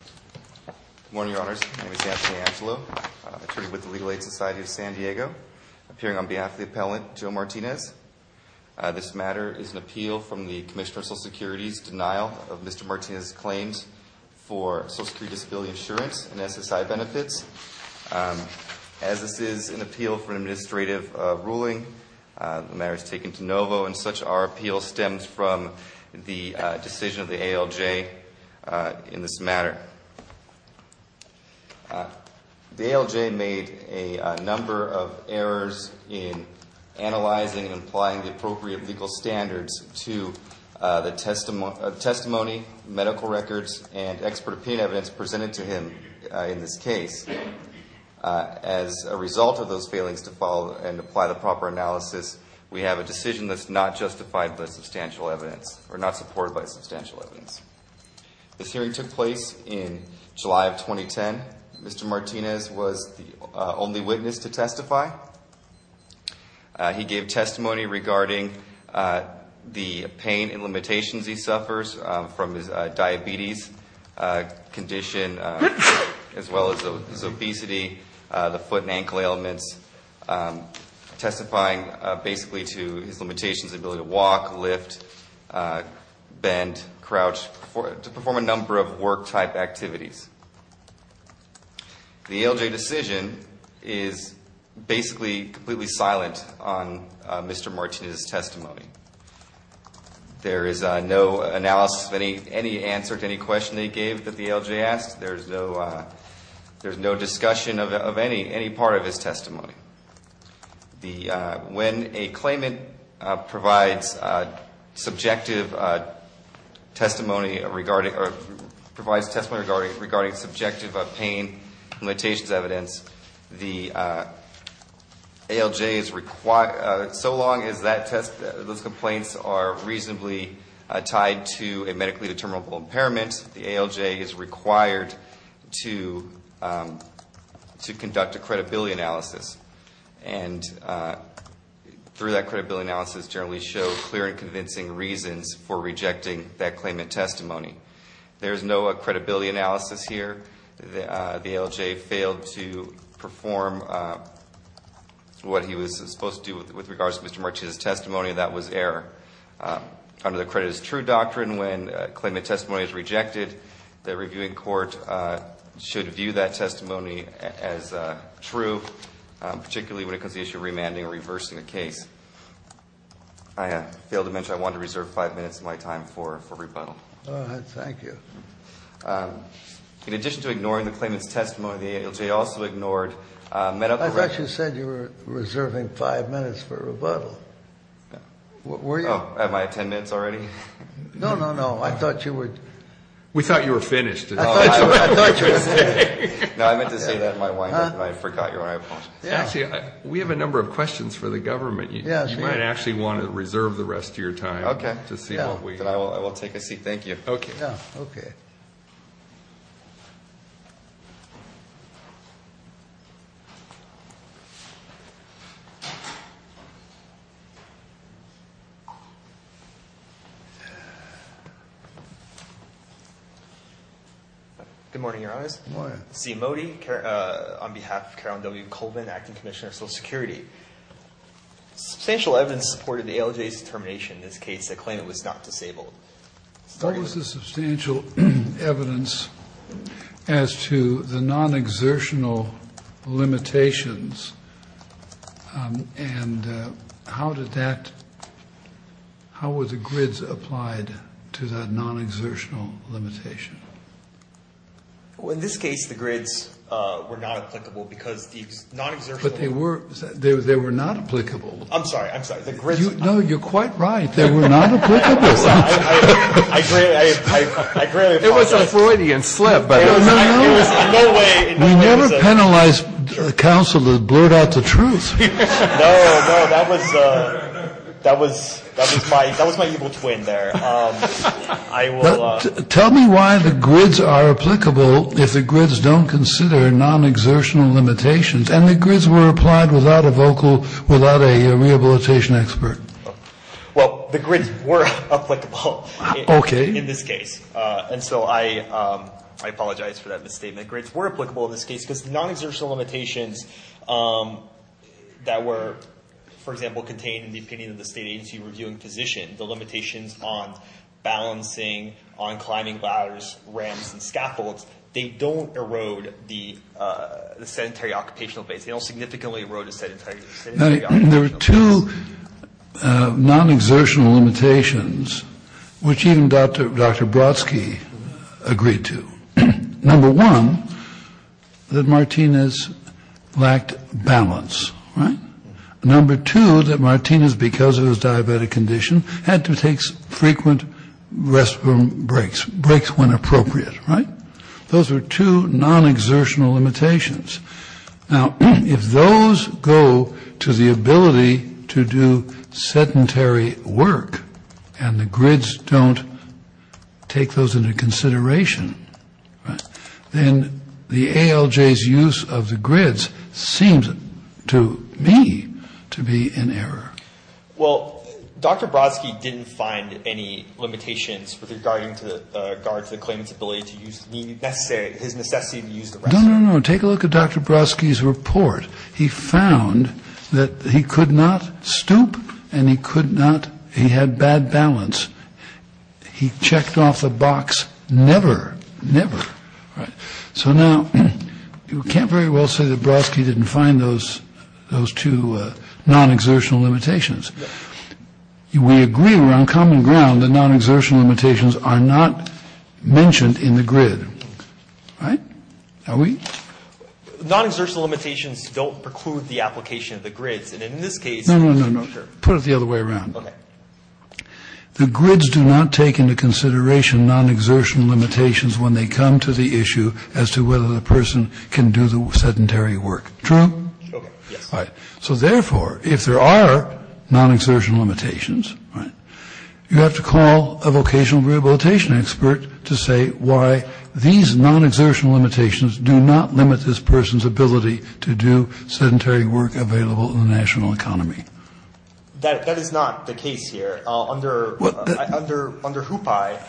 Good morning, your honors. My name is Anthony Angelo, attorney with the Legal Aid Society of San Diego, appearing on behalf of the appellant, Joe Martinez. This matter is an appeal from the Commissioner of Social Security's denial of Mr. Martinez's claims for Social Security Disability Insurance and SSI benefits. As this is an appeal for an administrative ruling, the matter is taken to NOVO, and such our appeal stems from the decision of the ALJ in this matter. The ALJ made a number of errors in analyzing and applying the appropriate legal standards to the testimony, medical records, and expert opinion evidence presented to him in this case. As a result of those failings to follow and apply the proper analysis, we have a decision that's not justified by substantial evidence, or not supported by substantial evidence. This hearing took place in July of 2010. Mr. Martinez was the only witness to testify. He gave testimony regarding the pain and limitations he suffers from his diabetes condition, as well as his obesity, the foot and ankle ailments, testifying basically to his limitations, the ability to walk, lift, bend, crouch, to perform a number of work-type activities. The ALJ decision is basically completely silent on Mr. Martinez's testimony. There is no analysis of any answer to any question they gave that the ALJ asked. There's no discussion of any part of his testimony. When a claimant provides testimony regarding subjective pain limitations evidence, so long as those complaints are reasonably tied to a medically determinable impairment, the ALJ is required to conduct a credibility analysis, and through that credibility analysis generally show clear and convincing reasons for rejecting that claimant testimony. There is no credibility analysis here. The ALJ failed to perform what he was supposed to do with regards to Mr. Martinez's testimony, and that was error. Under the credit as true doctrine, when a claimant testimony is rejected, the reviewing court should view that testimony as true, particularly when it comes to the issue of remanding or reversing a case. I failed to mention I wanted to reserve five minutes of my time for rebuttal. Go ahead. Thank you. In addition to ignoring the claimant's testimony, the ALJ also ignored medical— I thought you said you were reserving five minutes for rebuttal. Were you? Oh, am I at ten minutes already? No, no, no. I thought you were— We thought you were finished. I thought you were finished. No, I meant to say that in my windup, and I forgot your— Actually, we have a number of questions for the government. You might actually want to reserve the rest of your time to see what we— Okay. I will take a seat. Thank you. Okay. Good morning, Your Honors. Good morning. Zia Modi on behalf of Carole W. Colvin, Acting Commissioner of Social Security. Substantial evidence supported the ALJ's determination in this case that the claimant was not disabled. What was the substantial evidence as to the non-exertional limitations, and how did that—how were the grids applied to that non-exertional limitation? Well, in this case, the grids were not applicable because the non-exertional— But they were not applicable. I'm sorry. I'm sorry. The grids— No, you're quite right. They were not applicable. I greatly apologize. It was a Freudian slip, but— There was no way— We never penalize counsel that blurt out the truth. No, no, that was—that was my evil twin there. I will— Tell me why the grids are applicable if the grids don't consider non-exertional limitations, and the grids were applied without a vocal—without a rehabilitation expert. Well, the grids were applicable in this case, and so I apologize for that misstatement. Grids were applicable in this case because the non-exertional limitations that were, for example, contained in the opinion of the state agency reviewing physician, the limitations on balancing, on climbing ladders, ramps, and scaffolds, they don't erode the sedentary occupational base. There were two non-exertional limitations, which even Dr. Brodsky agreed to. Number one, that Martinez lacked balance, right? Number two, that Martinez, because of his diabetic condition, had to take frequent restroom breaks, breaks when appropriate, right? Those were two non-exertional limitations. Now, if those go to the ability to do sedentary work and the grids don't take those into consideration, then the ALJ's use of the grids seems to me to be in error. Well, Dr. Brodsky didn't find any limitations with regard to the claimant's ability to use the necessary— his necessity to use the restroom. No, no, no. Take a look at Dr. Brodsky's report. He found that he could not stoop and he could not—he had bad balance. He checked off the box never, never. So now, you can't very well say that Brodsky didn't find those two non-exertional limitations. We agree on common ground that non-exertional limitations are not mentioned in the grid, right? Are we? Non-exertional limitations don't preclude the application of the grids. And in this case— No, no, no, no. Put it the other way around. Okay. The grids do not take into consideration non-exertional limitations when they come to the issue as to whether the person can do the sedentary work. True? Okay. Yes. All right. So therefore, if there are non-exertional limitations, right, you have to call a vocational rehabilitation expert to say why these non-exertional limitations do not limit this person's ability to do sedentary work available in the national economy. That is not the case here. Under HOOPAI—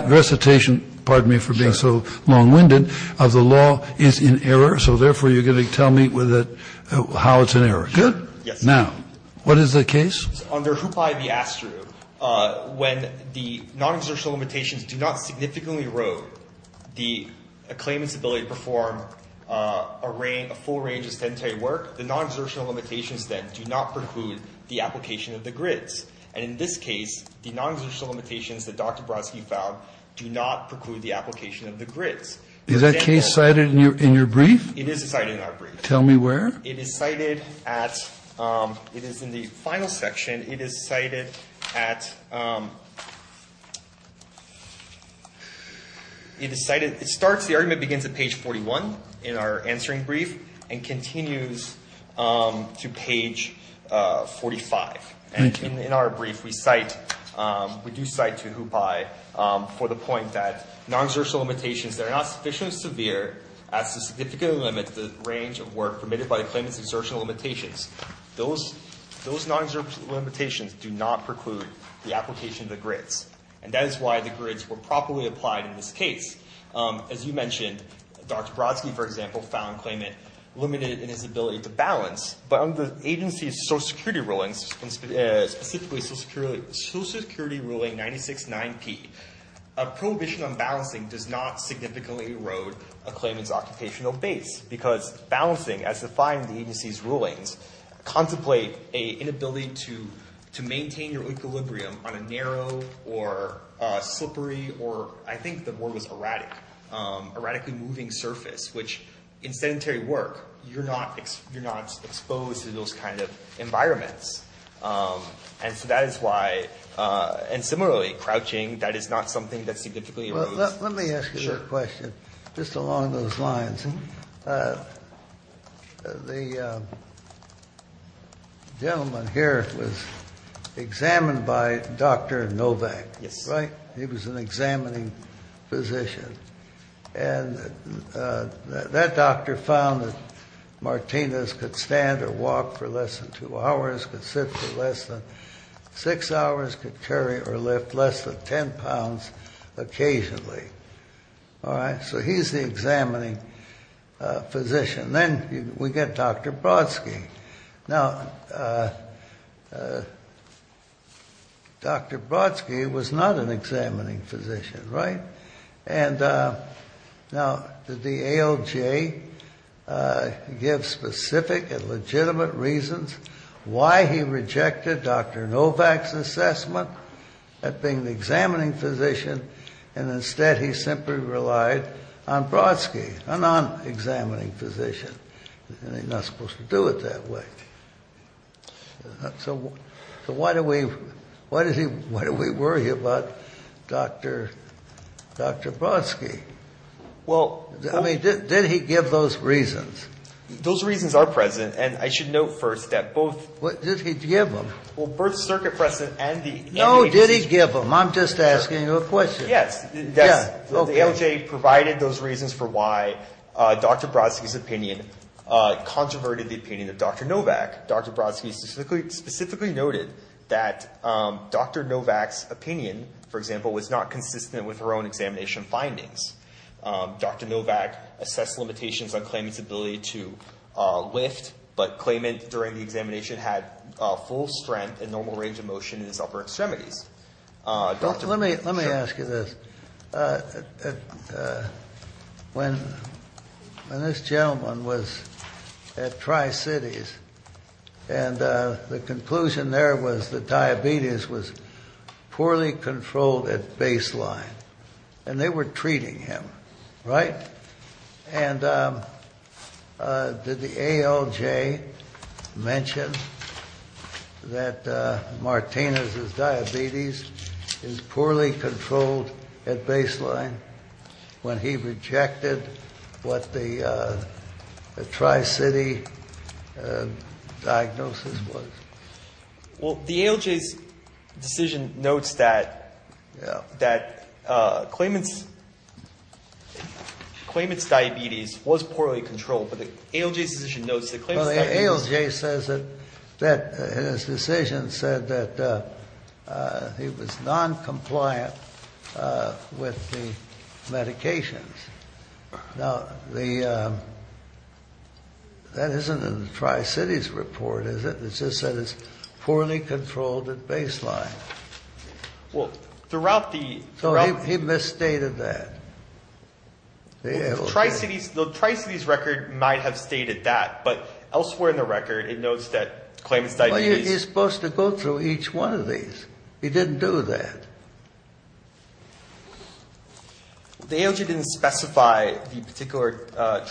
My recitation, pardon me for being so long-winded, of the law is in error, so therefore, you're going to tell me how it's in error. Good. Yes. Now, what is the case? Under HOOPAI v. ASTRU, when the non-exertional limitations do not significantly erode the claimant's ability to perform a full range of sedentary work, the non-exertional limitations then do not preclude the application of the grids. And in this case, the non-exertional limitations that Dr. Brodsky found do not preclude the application of the grids. Is that case cited in your brief? It is cited in our brief. Tell me where. It is cited at—it is in the final section. It is cited at—it is cited—it starts—the argument begins at page 41 in our answering brief and continues to page 45. And in our brief, we cite—we do cite to HOOPAI for the point that non-exertional limitations that are not sufficiently severe as to significantly limit the range of work permitted by the claimant's exertional limitations, those non-exertional limitations do not preclude the application of the grids. And that is why the grids were properly applied in this case. As you mentioned, Dr. Brodsky, for example, found the claimant limited in his ability to balance. But under the agency's Social Security rulings, specifically Social Security ruling 96-9P, a prohibition on balancing does not significantly erode a claimant's occupational base because balancing, as defined in the agency's rulings, contemplate an inability to maintain your equilibrium on a narrow or slippery or—I think the word was erratic—erratically moving surface, which in sedentary work, you're not exposed to those kind of environments. And so that is why—and similarly, crouching, that is not something that significantly erodes— Let me ask you a question just along those lines. The gentleman here was examined by Dr. Novak, right? Yes. He was an examining physician. And that doctor found that Martinez could stand or walk for less than two hours, could sit for less than six hours, could carry or lift less than 10 pounds occasionally. All right? So he's the examining physician. Then we get Dr. Brodsky. Now, Dr. Brodsky was not an examining physician, right? And now, did the ALJ give specific and legitimate reasons why he rejected Dr. Novak's assessment at being the examining physician, and instead he simply relied on Brodsky, a non-examining physician? He's not supposed to do it that way. So why do we—why do we worry about Dr. Brodsky? Well— I mean, did he give those reasons? Those reasons are present, and I should note first that both— Did he give them? Well, both the circuit precedent and the— No, did he give them? I'm just asking you a question. Yes. The ALJ provided those reasons for why Dr. Brodsky's opinion controverted the opinion of Dr. Novak. Dr. Brodsky specifically noted that Dr. Novak's opinion, for example, was not consistent with her own examination findings. Dr. Novak assessed limitations on Klayman's ability to lift, but Klayman, during the examination, had full strength and normal range of motion in his upper extremities. Let me ask you this. When this gentleman was at Tri-Cities, and the conclusion there was that diabetes was poorly controlled at baseline, and they were treating him, right? And did the ALJ mention that Martinez's diabetes is poorly controlled at baseline when he rejected what the Tri-City diagnosis was? Well, the ALJ's decision notes that Klayman's diabetes was poorly controlled, but the ALJ's decision notes that Klayman's diabetes— Well, the ALJ says that his decision said that he was noncompliant with the medications. Now, that isn't in the Tri-Cities report, is it? It just said it's poorly controlled at baseline. Well, throughout the— So he misstated that. The ALJ— The Tri-Cities record might have stated that, but elsewhere in the record, it notes that Klayman's diabetes— Well, you're supposed to go through each one of these. He didn't do that. The ALJ didn't specify the particular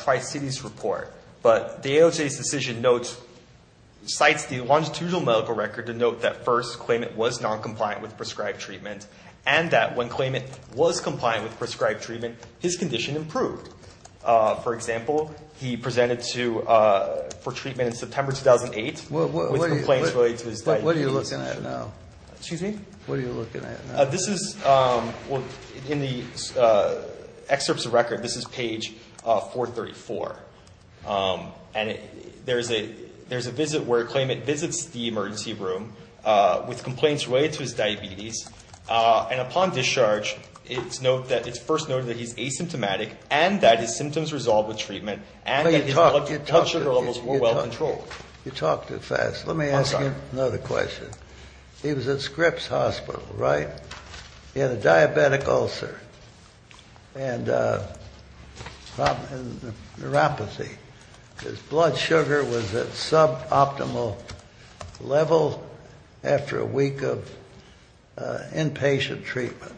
Tri-Cities report, but the ALJ's decision notes—cites the longitudinal medical record to note that, first, Klayman was noncompliant with prescribed treatment, and that when Klayman was compliant with prescribed treatment, his condition improved. For example, he presented for treatment in September 2008 with complaints related to his diabetes condition. What are you looking at now? Excuse me? What are you looking at now? This is—well, in the excerpts of the record, this is page 434, and there's a visit where Klayman visits the emergency room with complaints related to his diabetes, and upon discharge, it's first noted that he's asymptomatic and that his symptoms resolved with treatment and that his blood sugar levels were well controlled. You talk too fast. Let me ask you another question. He was at Scripps Hospital, right? He had a diabetic ulcer and neuropathy. His blood sugar was at suboptimal level after a week of inpatient treatment.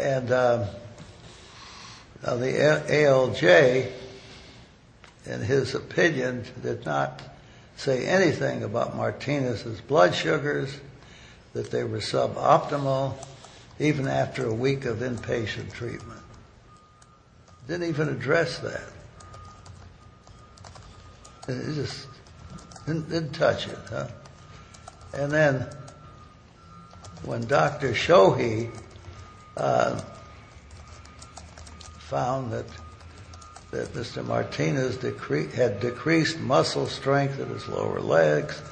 And the ALJ, in his opinion, did not say anything about Martinez's blood sugars, that they were suboptimal, even after a week of inpatient treatment. Didn't even address that. It just didn't touch it, huh? And then when Dr. Shohi found that Mr. Martinez had decreased muscle strength in his lower legs,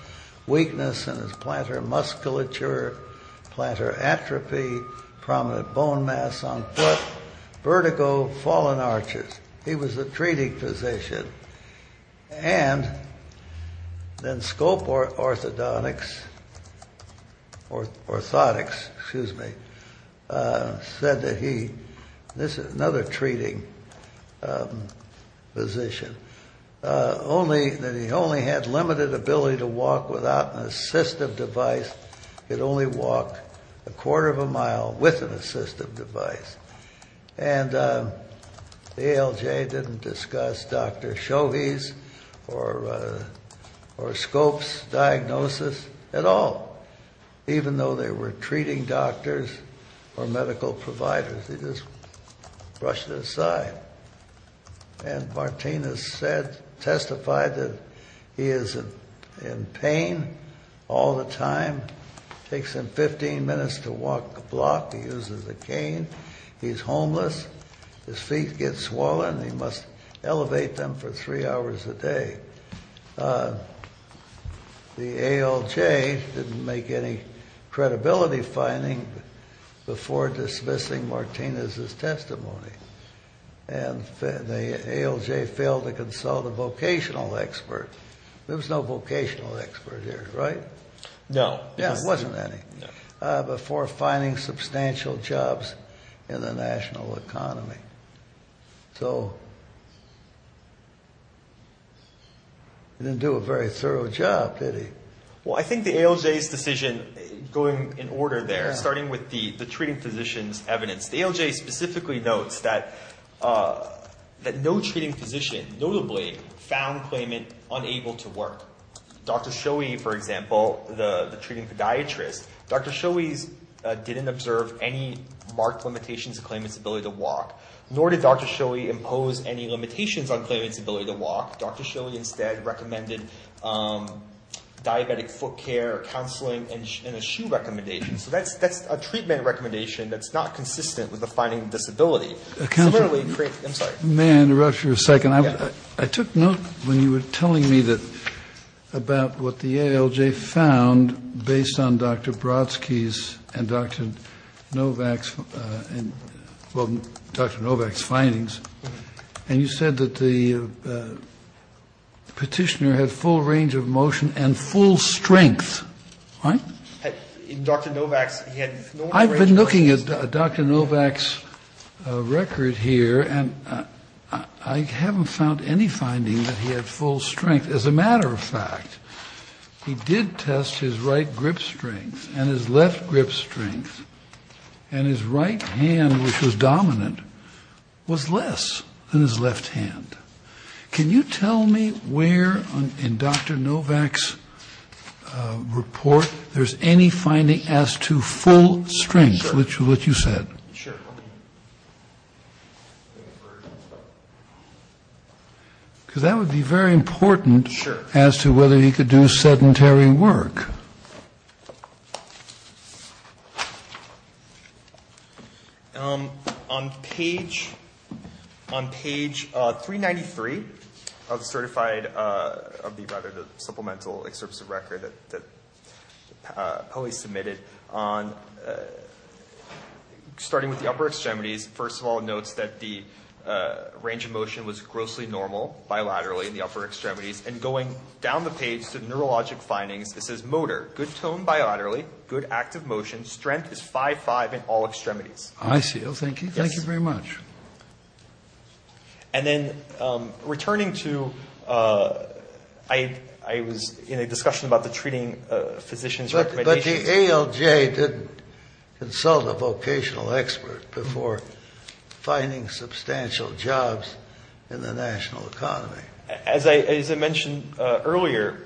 weakness in his plantar musculature, plantar atrophy, prominent bone mass on foot, vertigo, fallen arches. He was a treating physician. And then Scope Orthotics said that he, this is another treating physician, that he only had limited ability to walk without an assistive device. He could only walk a quarter of a mile with an assistive device. And the ALJ didn't discuss Dr. Shohi's or Scope's diagnosis at all, even though they were treating doctors or medical providers. They just brushed it aside. And Martinez testified that he is in pain all the time. Takes him 15 minutes to walk a block. He uses a cane. He's homeless. His feet get swollen. He must elevate them for three hours a day. The ALJ didn't make any credibility finding before dismissing Martinez's testimony. And the ALJ failed to consult a vocational expert. There was no vocational expert here, right? No. Yeah, there wasn't any. Before finding substantial jobs in the national economy. So he didn't do a very thorough job, did he? Well, I think the ALJ's decision going in order there, starting with the treating physician's evidence, the ALJ specifically notes that no treating physician notably found Klayman unable to work. Dr. Shohi, for example, the treating podiatrist, Dr. Shohi didn't observe any marked limitations to Klayman's ability to walk. Nor did Dr. Shohi impose any limitations on Klayman's ability to walk. Dr. Shohi instead recommended diabetic foot care, counseling, and a shoe recommendation. So that's a treatment recommendation that's not consistent with the finding of disability. May I interrupt you for a second? I took note when you were telling me about what the ALJ found based on Dr. Brodsky's and Dr. Novak's, well, Dr. Novak's findings. And you said that the petitioner had full range of motion and full strength, right? Well, I've been looking at Dr. Novak's record here, and I haven't found any finding that he had full strength. As a matter of fact, he did test his right grip strength and his left grip strength, and his right hand, which was dominant, was less than his left hand. Can you tell me where in Dr. Novak's report there's any finding as to full strength, which is what you said? Sure. Because that would be very important as to whether he could do sedentary work. Okay. On page 393 of the certified, of the rather supplemental excerpts of record that Polly submitted, starting with the upper extremities, first of all notes that the range of motion was grossly normal bilaterally in the upper extremities, and going down the page to neurologic findings, it says motor, good tone bilaterally, good active motion, strength is 5-5 in all extremities. I see. Well, thank you. Yes. Thank you very much. And then returning to, I was in a discussion about the treating physician's recommendations. But the ALJ didn't consult a vocational expert before finding substantial jobs in the national economy. As I mentioned earlier,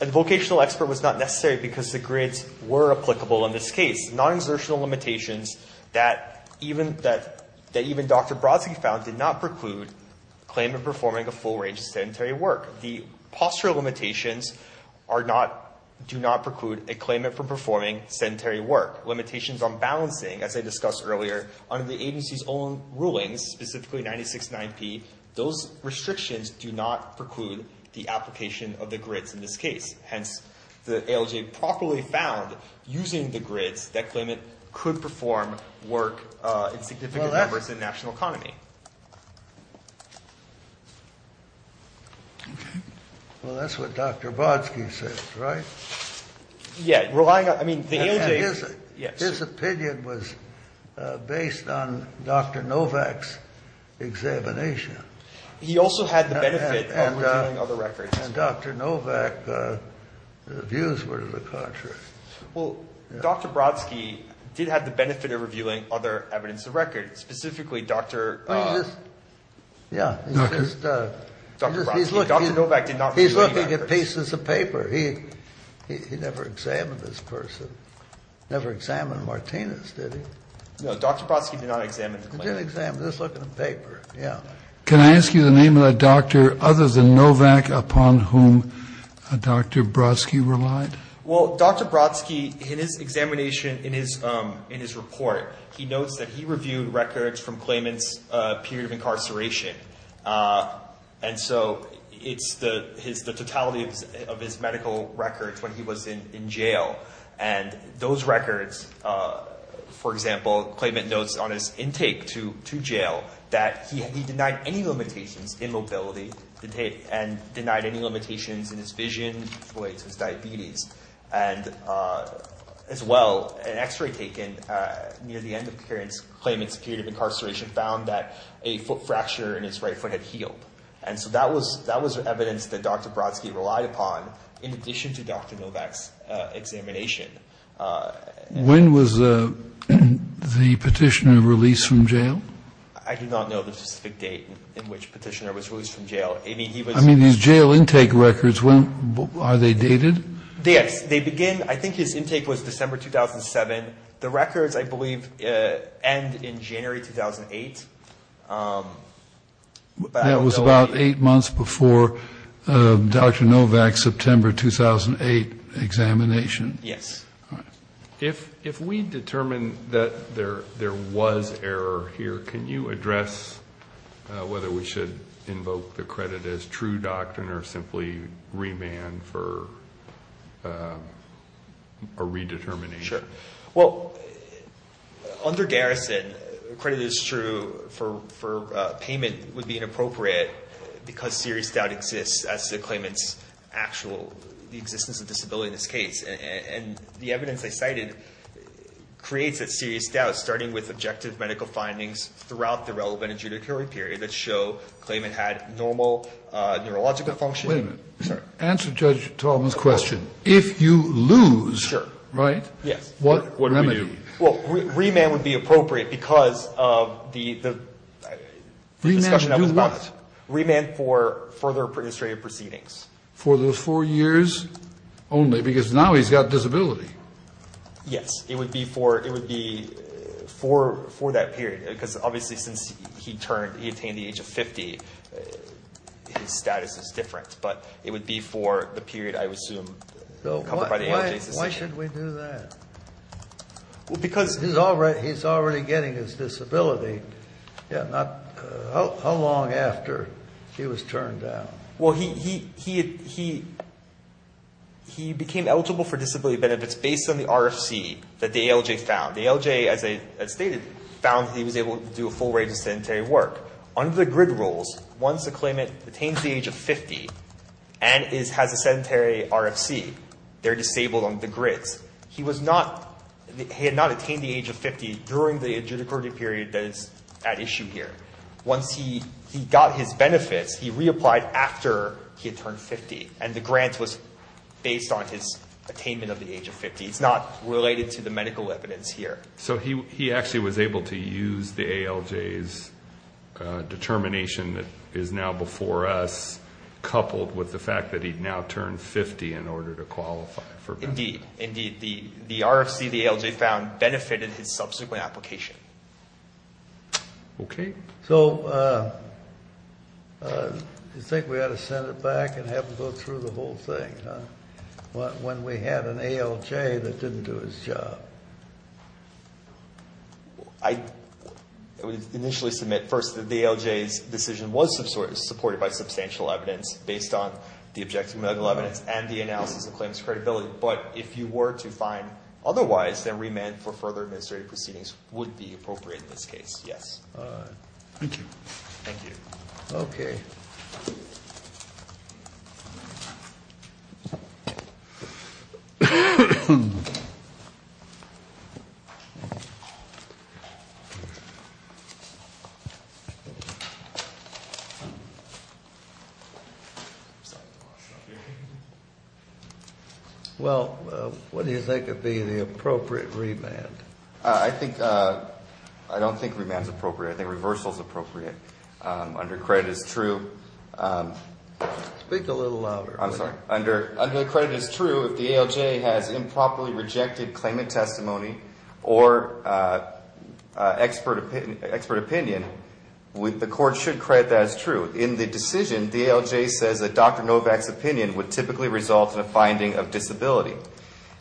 a vocational expert was not necessary because the grids were applicable in this case. Non-exertional limitations that even Dr. Brodsky found did not preclude claimant performing a full range of sedentary work. The postural limitations are not, do not preclude a claimant from performing sedentary work. Limitations on balancing, as I discussed earlier, under the agency's own rulings, specifically 96-9P, those restrictions do not preclude the application of the grids in this case. Hence, the ALJ properly found, using the grids, that claimant could perform work in significant numbers in national economy. Well, that's what Dr. Brodsky says, right? Yeah. His opinion was based on Dr. Novak's examination. He also had the benefit of reviewing other records. And Dr. Novak's views were to the contrary. Well, Dr. Brodsky did have the benefit of reviewing other evidence of records, specifically Dr. Yeah. Dr. Novak did not review any records. He never examined this person. He never examined Martinez, did he? No. Dr. Brodsky did not examine the claimant. He did examine. Just look at the paper. Yeah. Can I ask you the name of the doctor other than Novak upon whom Dr. Brodsky relied? Well, Dr. Brodsky, in his examination, in his report, he notes that he reviewed records from claimant's period of incarceration. And so it's the totality of his medical records when he was in jail. And those records, for example, claimant notes on his intake to jail that he denied any limitations in mobility and denied any limitations in his vision, which relates to his diabetes. And as well, an X-ray taken near the end of claimant's period of incarceration found that a foot fracture in his right foot had healed. And so that was evidence that Dr. Brodsky relied upon in addition to Dr. Novak's examination. When was the petitioner released from jail? I do not know the specific date in which petitioner was released from jail. I mean, these jail intake records, are they dated? They begin, I think his intake was December 2007. The records, I believe, end in January 2008. That was about eight months before Dr. Novak's September 2008 examination. Yes. If we determine that there was error here, can you address whether we should invoke the credit as true doctrine or simply remand for a redetermination? Sure. Well, under Garrison, credit as true for payment would be inappropriate because serious doubt exists as to the claimant's actual existence of disability in this case. And the evidence I cited creates that serious doubt, starting with objective medical findings throughout the relevant adjudicatory period that show the claimant had normal neurological function. Wait a minute. Answer Judge Tallman's question. If you lose. Sure. Right? Yes. What remedy? Well, remand would be appropriate because of the discussion that was about it. Remand for what? Remand for further administrative proceedings. For those four years only? Because now he's got disability. Yes. It would be for that period. Because obviously since he attained the age of 50, his status is different. But it would be for the period, I would assume, covered by the AHA's decision. Why should we do that? Because he's already getting his disability. How long after he was turned down? Well, he became eligible for disability benefits based on the RFC that the ALJ found. The ALJ, as stated, found that he was able to do a full range of sedentary work. Under the GRID rules, once a claimant attains the age of 50 and has a sedentary RFC, they're disabled under the GRIDs. He had not attained the age of 50 during the adjudicatory period that is at issue here. Once he got his benefits, he reapplied after he had turned 50. And the grant was based on his attainment of the age of 50. It's not related to the medical evidence here. So he actually was able to use the ALJ's determination that is now before us, coupled with the fact that he'd now turned 50 in order to qualify for benefits. Indeed. Indeed. The RFC the ALJ found benefited his subsequent application. Okay. So you think we ought to send it back and have him go through the whole thing, huh? When we had an ALJ that didn't do his job. I would initially submit first that the ALJ's decision was supported by substantial evidence based on the objective medical evidence and the analysis of claims credibility. But if you were to find otherwise, then remand for further administrative proceedings would be appropriate in this case. Yes. Thank you. Thank you. Okay. Well, what do you think would be the appropriate remand? I don't think remand is appropriate. I think reversal is appropriate. Under credit is true. Speak a little louder. I'm sorry. Under credit is true if the ALJ has improperly rejected claimant testimony or expert opinion, the court should credit that as true. In the decision, the ALJ says that Dr. Novak's opinion would typically result in a finding of disability.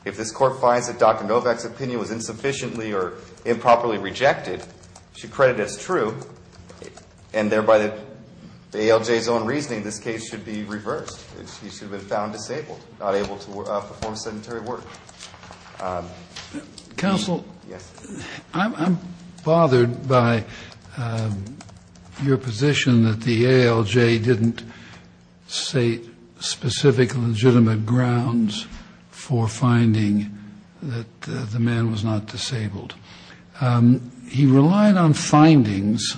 If this court finds that Dr. Novak's opinion was insufficiently or improperly rejected, it should credit as true, and thereby the ALJ's own reasoning, this case should be reversed. He should have been found disabled, not able to perform sedentary work. Counsel? Yes. I'm bothered by your position that the ALJ didn't say specific legitimate grounds for finding that the man was not disabled. He relied on findings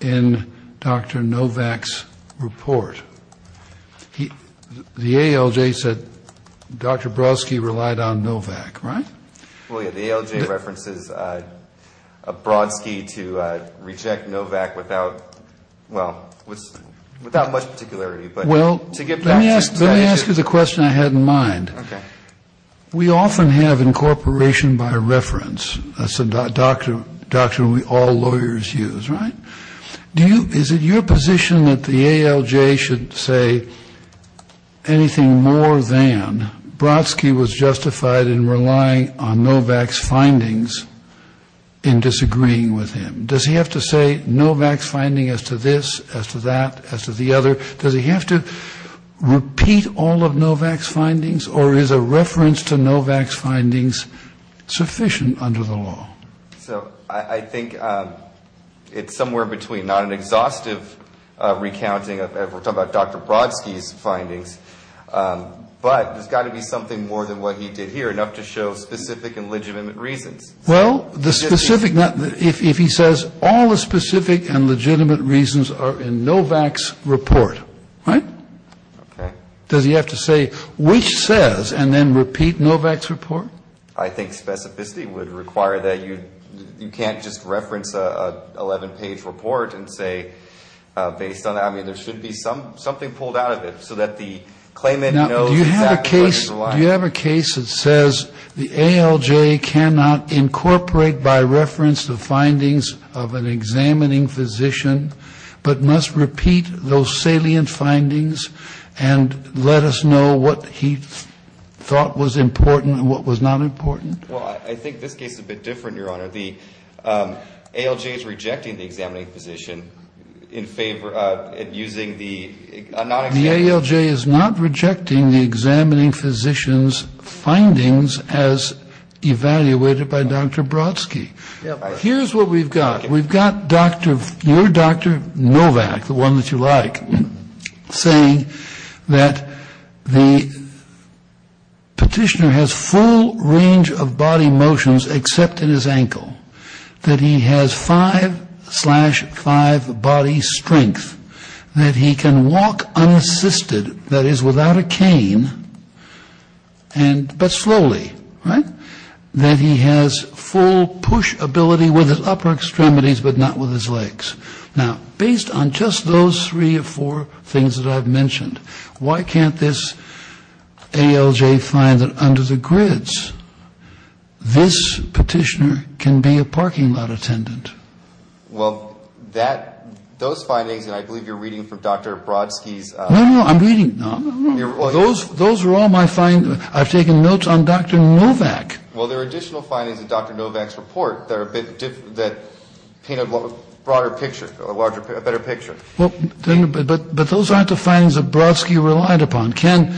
in Dr. Novak's report. The ALJ said Dr. Brodsky relied on Novak, right? Well, yeah, the ALJ references Brodsky to reject Novak without, well, without much particularity. Well, let me ask you the question I had in mind. Okay. We often have incorporation by reference. That's a doctrine we all lawyers use, right? Is it your position that the ALJ should say anything more than Brodsky was justified in relying on Novak's findings in disagreeing with him? Does he have to say Novak's finding as to this, as to that, as to the other? Does he have to repeat all of Novak's findings, or is a reference to Novak's findings sufficient under the law? So I think it's somewhere between not an exhaustive recounting of Dr. Brodsky's findings, but there's got to be something more than what he did here, enough to show specific and legitimate reasons. Well, the specific, if he says all the specific and legitimate reasons are in Novak's report, right? Okay. Does he have to say which says and then repeat Novak's report? I think specificity would require that. You can't just reference an 11-page report and say based on that. I mean, there should be something pulled out of it so that the claimant knows exactly what he's relying on. Now, do you have a case that says the ALJ cannot incorporate by reference the findings of an examining physician, but must repeat those salient findings and let us know what he thought was important and what was not important? Well, I think this case is a bit different, Your Honor. The ALJ is rejecting the examining physician in favor of using the non-examining. The ALJ is not rejecting the examining physician's findings as evaluated by Dr. Brodsky. Here's what we've got. We've got your Dr. Novak, the one that you like, saying that the petitioner has full range of body motions except in his ankle, that he has five-slash-five body strength, that he can walk unassisted, that is, without a cane, but slowly, right? And that he has full push ability with his upper extremities, but not with his legs. Now, based on just those three or four things that I've mentioned, why can't this ALJ find that under the grids, this petitioner can be a parking lot attendant? Well, that, those findings, and I believe you're reading from Dr. Brodsky's. No, no, I'm reading. Those are all my findings. I've taken notes on Dr. Novak. Well, there are additional findings in Dr. Novak's report that paint a broader picture, a better picture. But those aren't the findings that Brodsky relied upon. Can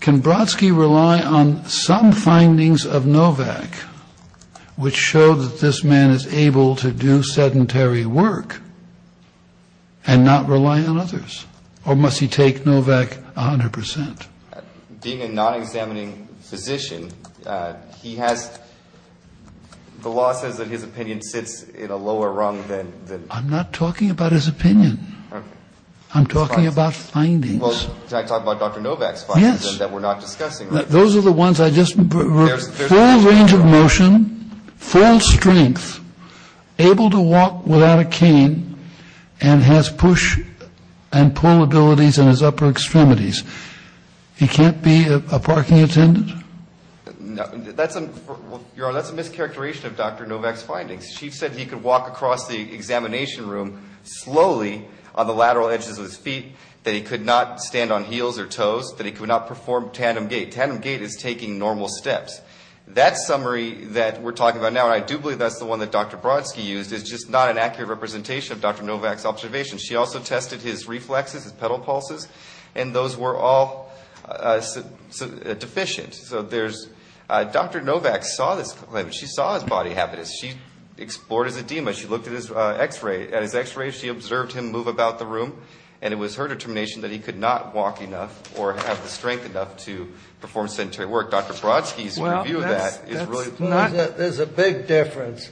Brodsky rely on some findings of Novak which show that this man is able to do sedentary work and not rely on others? Or must he take Novak 100 percent? Being a non-examining physician, he has, the law says that his opinion sits in a lower rung than. I'm not talking about his opinion. Okay. I'm talking about findings. Well, can I talk about Dr. Novak's findings? Yes. That we're not discussing. Those are the ones I just, full range of motion, full strength, able to walk without a cane, and has push and pull abilities in his upper extremities. He can't be a parking attendant? That's, Your Honor, that's a mischaracterization of Dr. Novak's findings. She said he could walk across the examination room slowly on the lateral edges of his feet, that he could not stand on heels or toes, that he could not perform tandem gait. Tandem gait is taking normal steps. That summary that we're talking about now, and I do believe that's the one that Dr. Brodsky used, is just not an accurate representation of Dr. Novak's observations. She also tested his reflexes, his pedal pulses, and those were all deficient. So there's, Dr. Novak saw this claim. She saw his body habitus. She explored his edema. She looked at his x-ray. She observed him move about the room, and it was her determination that he could not walk enough or have the strength enough to perform sedentary work. Dr. Brodsky's review of that is really plain. There's a big difference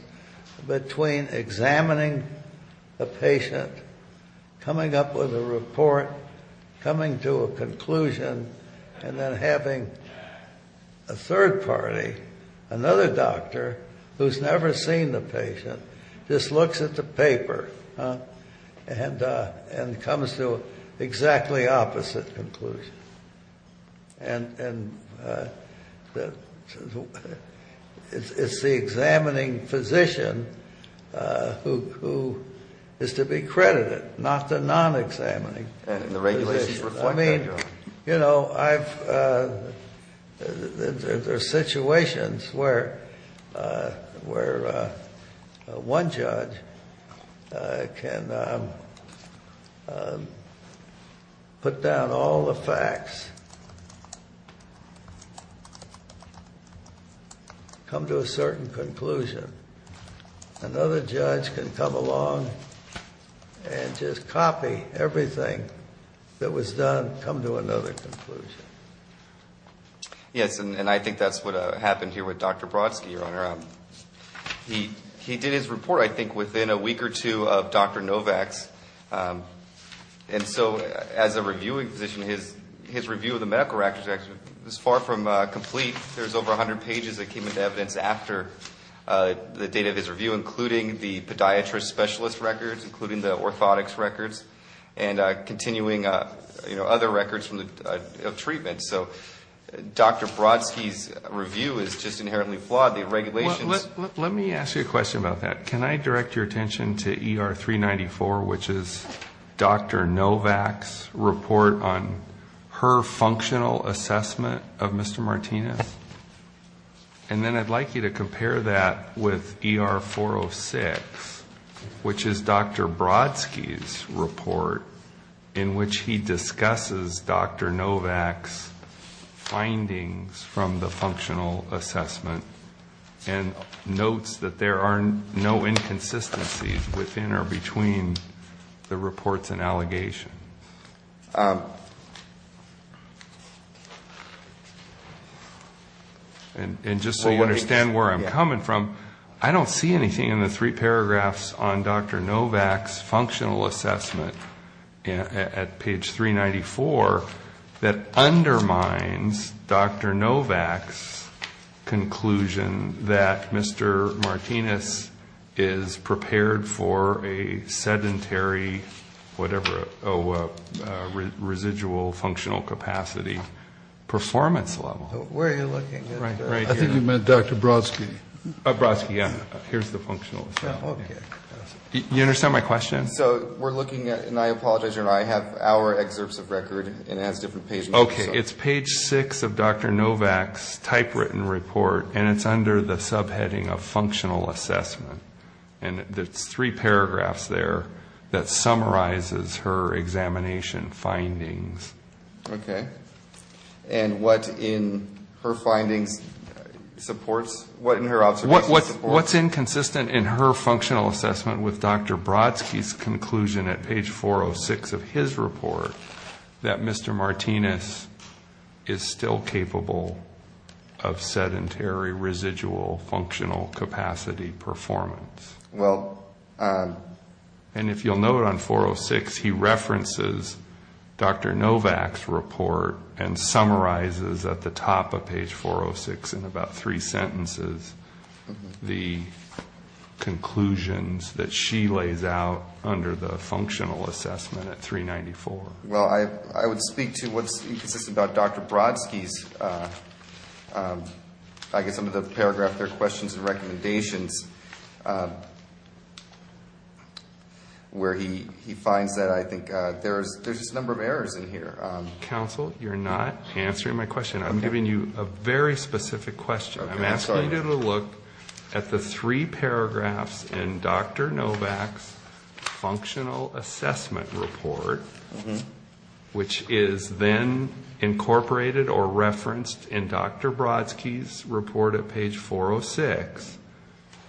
between examining a patient, coming up with a report, coming to a conclusion, and then having a third party, another doctor, who's never seen the patient, just looks at the paper and comes to exactly opposite conclusions. And it's the examining physician who is to be credited, not the non-examining. I mean, you know, there's situations where one judge can put down all the facts, come to a certain conclusion. Another judge can come along and just copy everything that was done, come to another conclusion. Yes, and I think that's what happened here with Dr. Brodsky, Your Honor. He did his report, I think, within a week or two of Dr. Novak's. And so as a reviewing physician, his review of the medical records was far from complete. There's over 100 pages that came into evidence after the date of his review, including the podiatrist specialist records, including the orthotics records, and continuing other records of treatment. So Dr. Brodsky's review is just inherently flawed. The regulations- Let me ask you a question about that. Can I direct your attention to ER 394, which is Dr. Novak's report on her functional assessment of Mr. Martinez? And then I'd like you to compare that with ER 406, which is Dr. Brodsky's report, in which he discusses Dr. Novak's findings from the functional assessment and notes that there are no inconsistencies within or between the reports and allegations. And just so you understand where I'm coming from, I don't see anything in the three paragraphs on Dr. Novak's functional assessment at page 394 that undermines Dr. Novak's conclusion that Mr. Martinez is prepared for a sedentary, whatever, residual functional capacity performance level. Where are you looking at? Right here. I think you meant Dr. Brodsky. Brodsky, yeah. Here's the functional assessment. You understand my question? So we're looking at, and I apologize, you and I have our excerpts of record, and it has different pages. Okay, it's page 6 of Dr. Novak's typewritten report, and it's under the subheading of functional assessment. And it's three paragraphs there that summarizes her examination findings. Okay. And what in her findings supports, what in her observations supports- What's inconsistent in her functional assessment with Dr. Brodsky's conclusion at page 406 of his report that Mr. Martinez is still capable of sedentary, residual functional capacity performance? And if you'll note on 406, he references Dr. Novak's report and summarizes at the top of page 406 in about three sentences the conclusions that she lays out under the functional assessment at 394. Well, I would speak to what's inconsistent about Dr. Brodsky's, I guess under the paragraph there, questions and recommendations, where he finds that I think there's this number of errors in here. Counsel, you're not answering my question. I'm giving you a very specific question. I'm asking you to look at the three paragraphs in Dr. Novak's functional assessment report, which is then incorporated or referenced in Dr. Brodsky's report at page 406,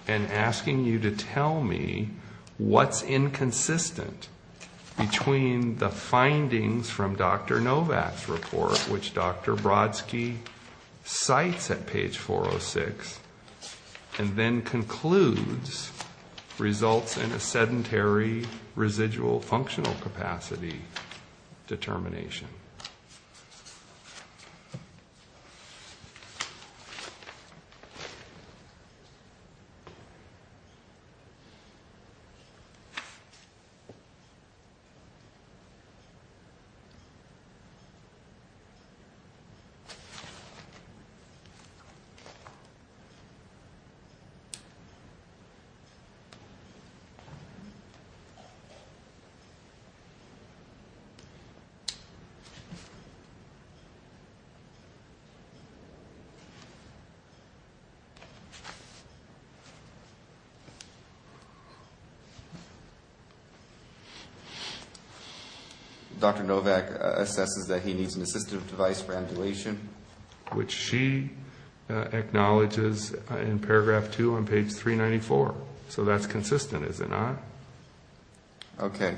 and asking you to tell me what's inconsistent between the findings from Dr. Novak's report, which Dr. Brodsky cites at page 406, and then concludes results in a sedentary, residual functional capacity determination. Thank you. Dr. Novak assesses that he needs an assistive device for ambulation, which she acknowledges in paragraph 2 on page 394. So that's consistent, is it not? Okay.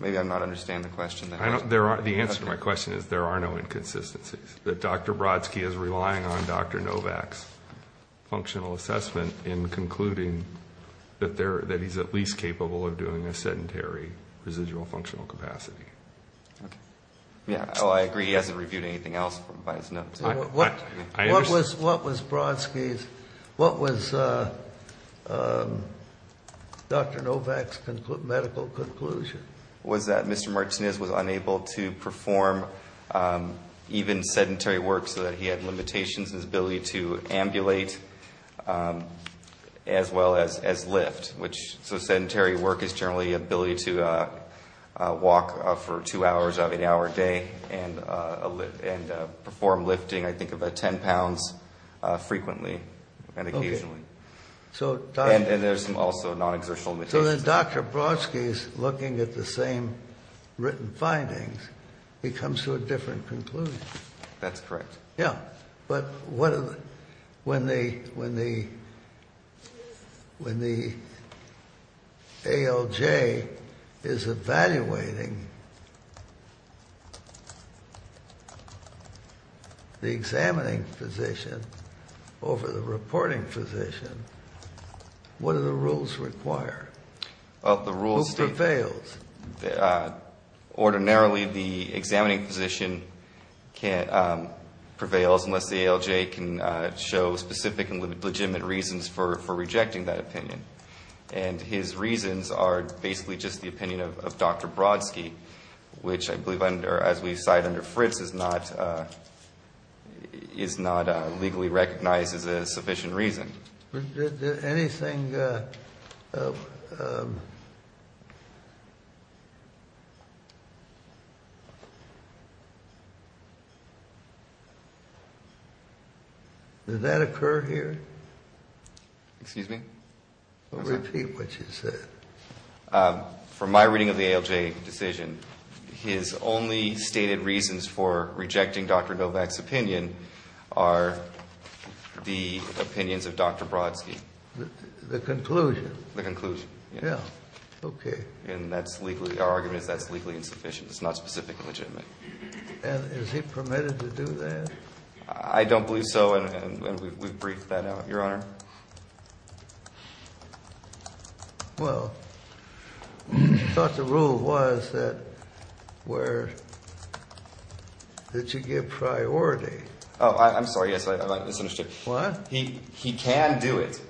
The answer to my question is there are no inconsistencies, that Dr. Brodsky is relying on Dr. Novak's functional assessment in concluding that he's at least capable of doing a sedentary, residual functional capacity. Yeah, I agree he hasn't reviewed anything else by his notes. What was Brodsky's, what was Dr. Novak's medical conclusion? Was that Mr. Martinez was unable to perform even sedentary work so that he had limitations in his ability to ambulate, as well as lift. So sedentary work is generally the ability to walk for two hours of an hour a day and perform lifting, I think, about 10 pounds frequently and occasionally. And there's also non-exertional limitations. So then Dr. Brodsky's looking at the same written findings becomes to a different conclusion. That's correct. Yeah, but when the ALJ is evaluating the examining physician over the reporting physician, what do the rules require? Well, the rules state that ordinarily the examining physician prevails unless the ALJ can show specific and legitimate reasons for rejecting that opinion. And his reasons are basically just the opinion of Dr. Brodsky, which I believe, as we cite under Fritz, is not legally recognized as a sufficient reason. Did anything Did that occur here? Excuse me? Repeat what you said. From my reading of the ALJ decision, his only stated reasons for rejecting Dr. Novak's opinion are the opinions of Dr. Brodsky. The conclusion? The conclusion. Yeah, okay. And is he permitted to do that? I don't believe so, and we've briefed that out, Your Honor. Well, I thought the rule was that you give priority. Oh, I'm sorry. He can do it,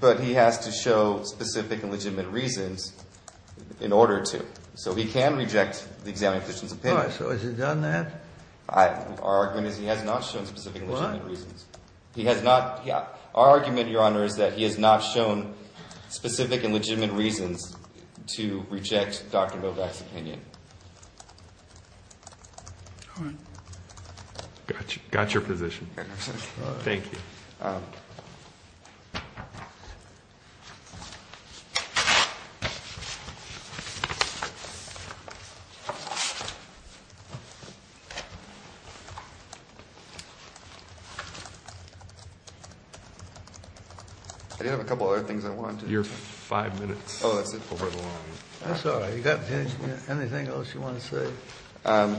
but he has to show specific and legitimate reasons in order to. So he can reject the examining physician's opinion. All right, so has he done that? Our argument is he has not shown specific and legitimate reasons. Our argument, Your Honor, is that he has not shown specific and legitimate reasons to reject Dr. Novak's opinion. Got your position. Thank you. I do have a couple other things I wanted to. Your five minutes. That's all right. You've got anything else you want to say?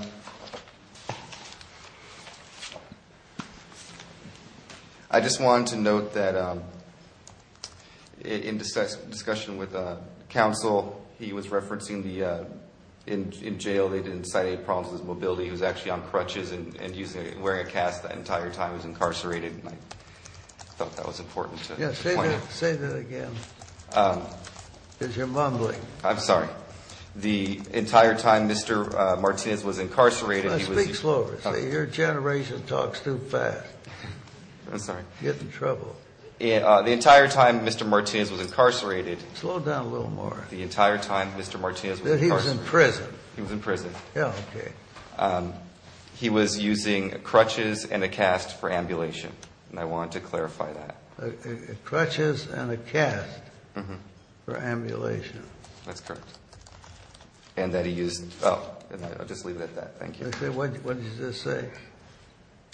I just wanted to note that in discussion with counsel, he was referencing in jail they didn't cite any problems with his mobility. He was actually on crutches and wearing a cast the entire time he was incarcerated, and I thought that was important to point out. Say that again because you're mumbling. I'm sorry. The entire time Mr. Martinez was incarcerated, he was. Speak slower. Your generation talks too fast. I'm sorry. The entire time Mr. Martinez was incarcerated. Slow down a little more. He was in prison. He was in prison. He was using crutches and a cast for ambulation, and I wanted to clarify that. Crutches and a cast for ambulation. That's correct. And that he used. I'll just leave it at that. Thank you. What did you just say?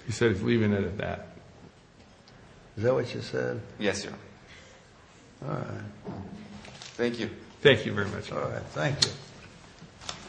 He said he's leaving it at that. Is that what you said? Yes, sir. Thank you. Thank you very much. Thank you.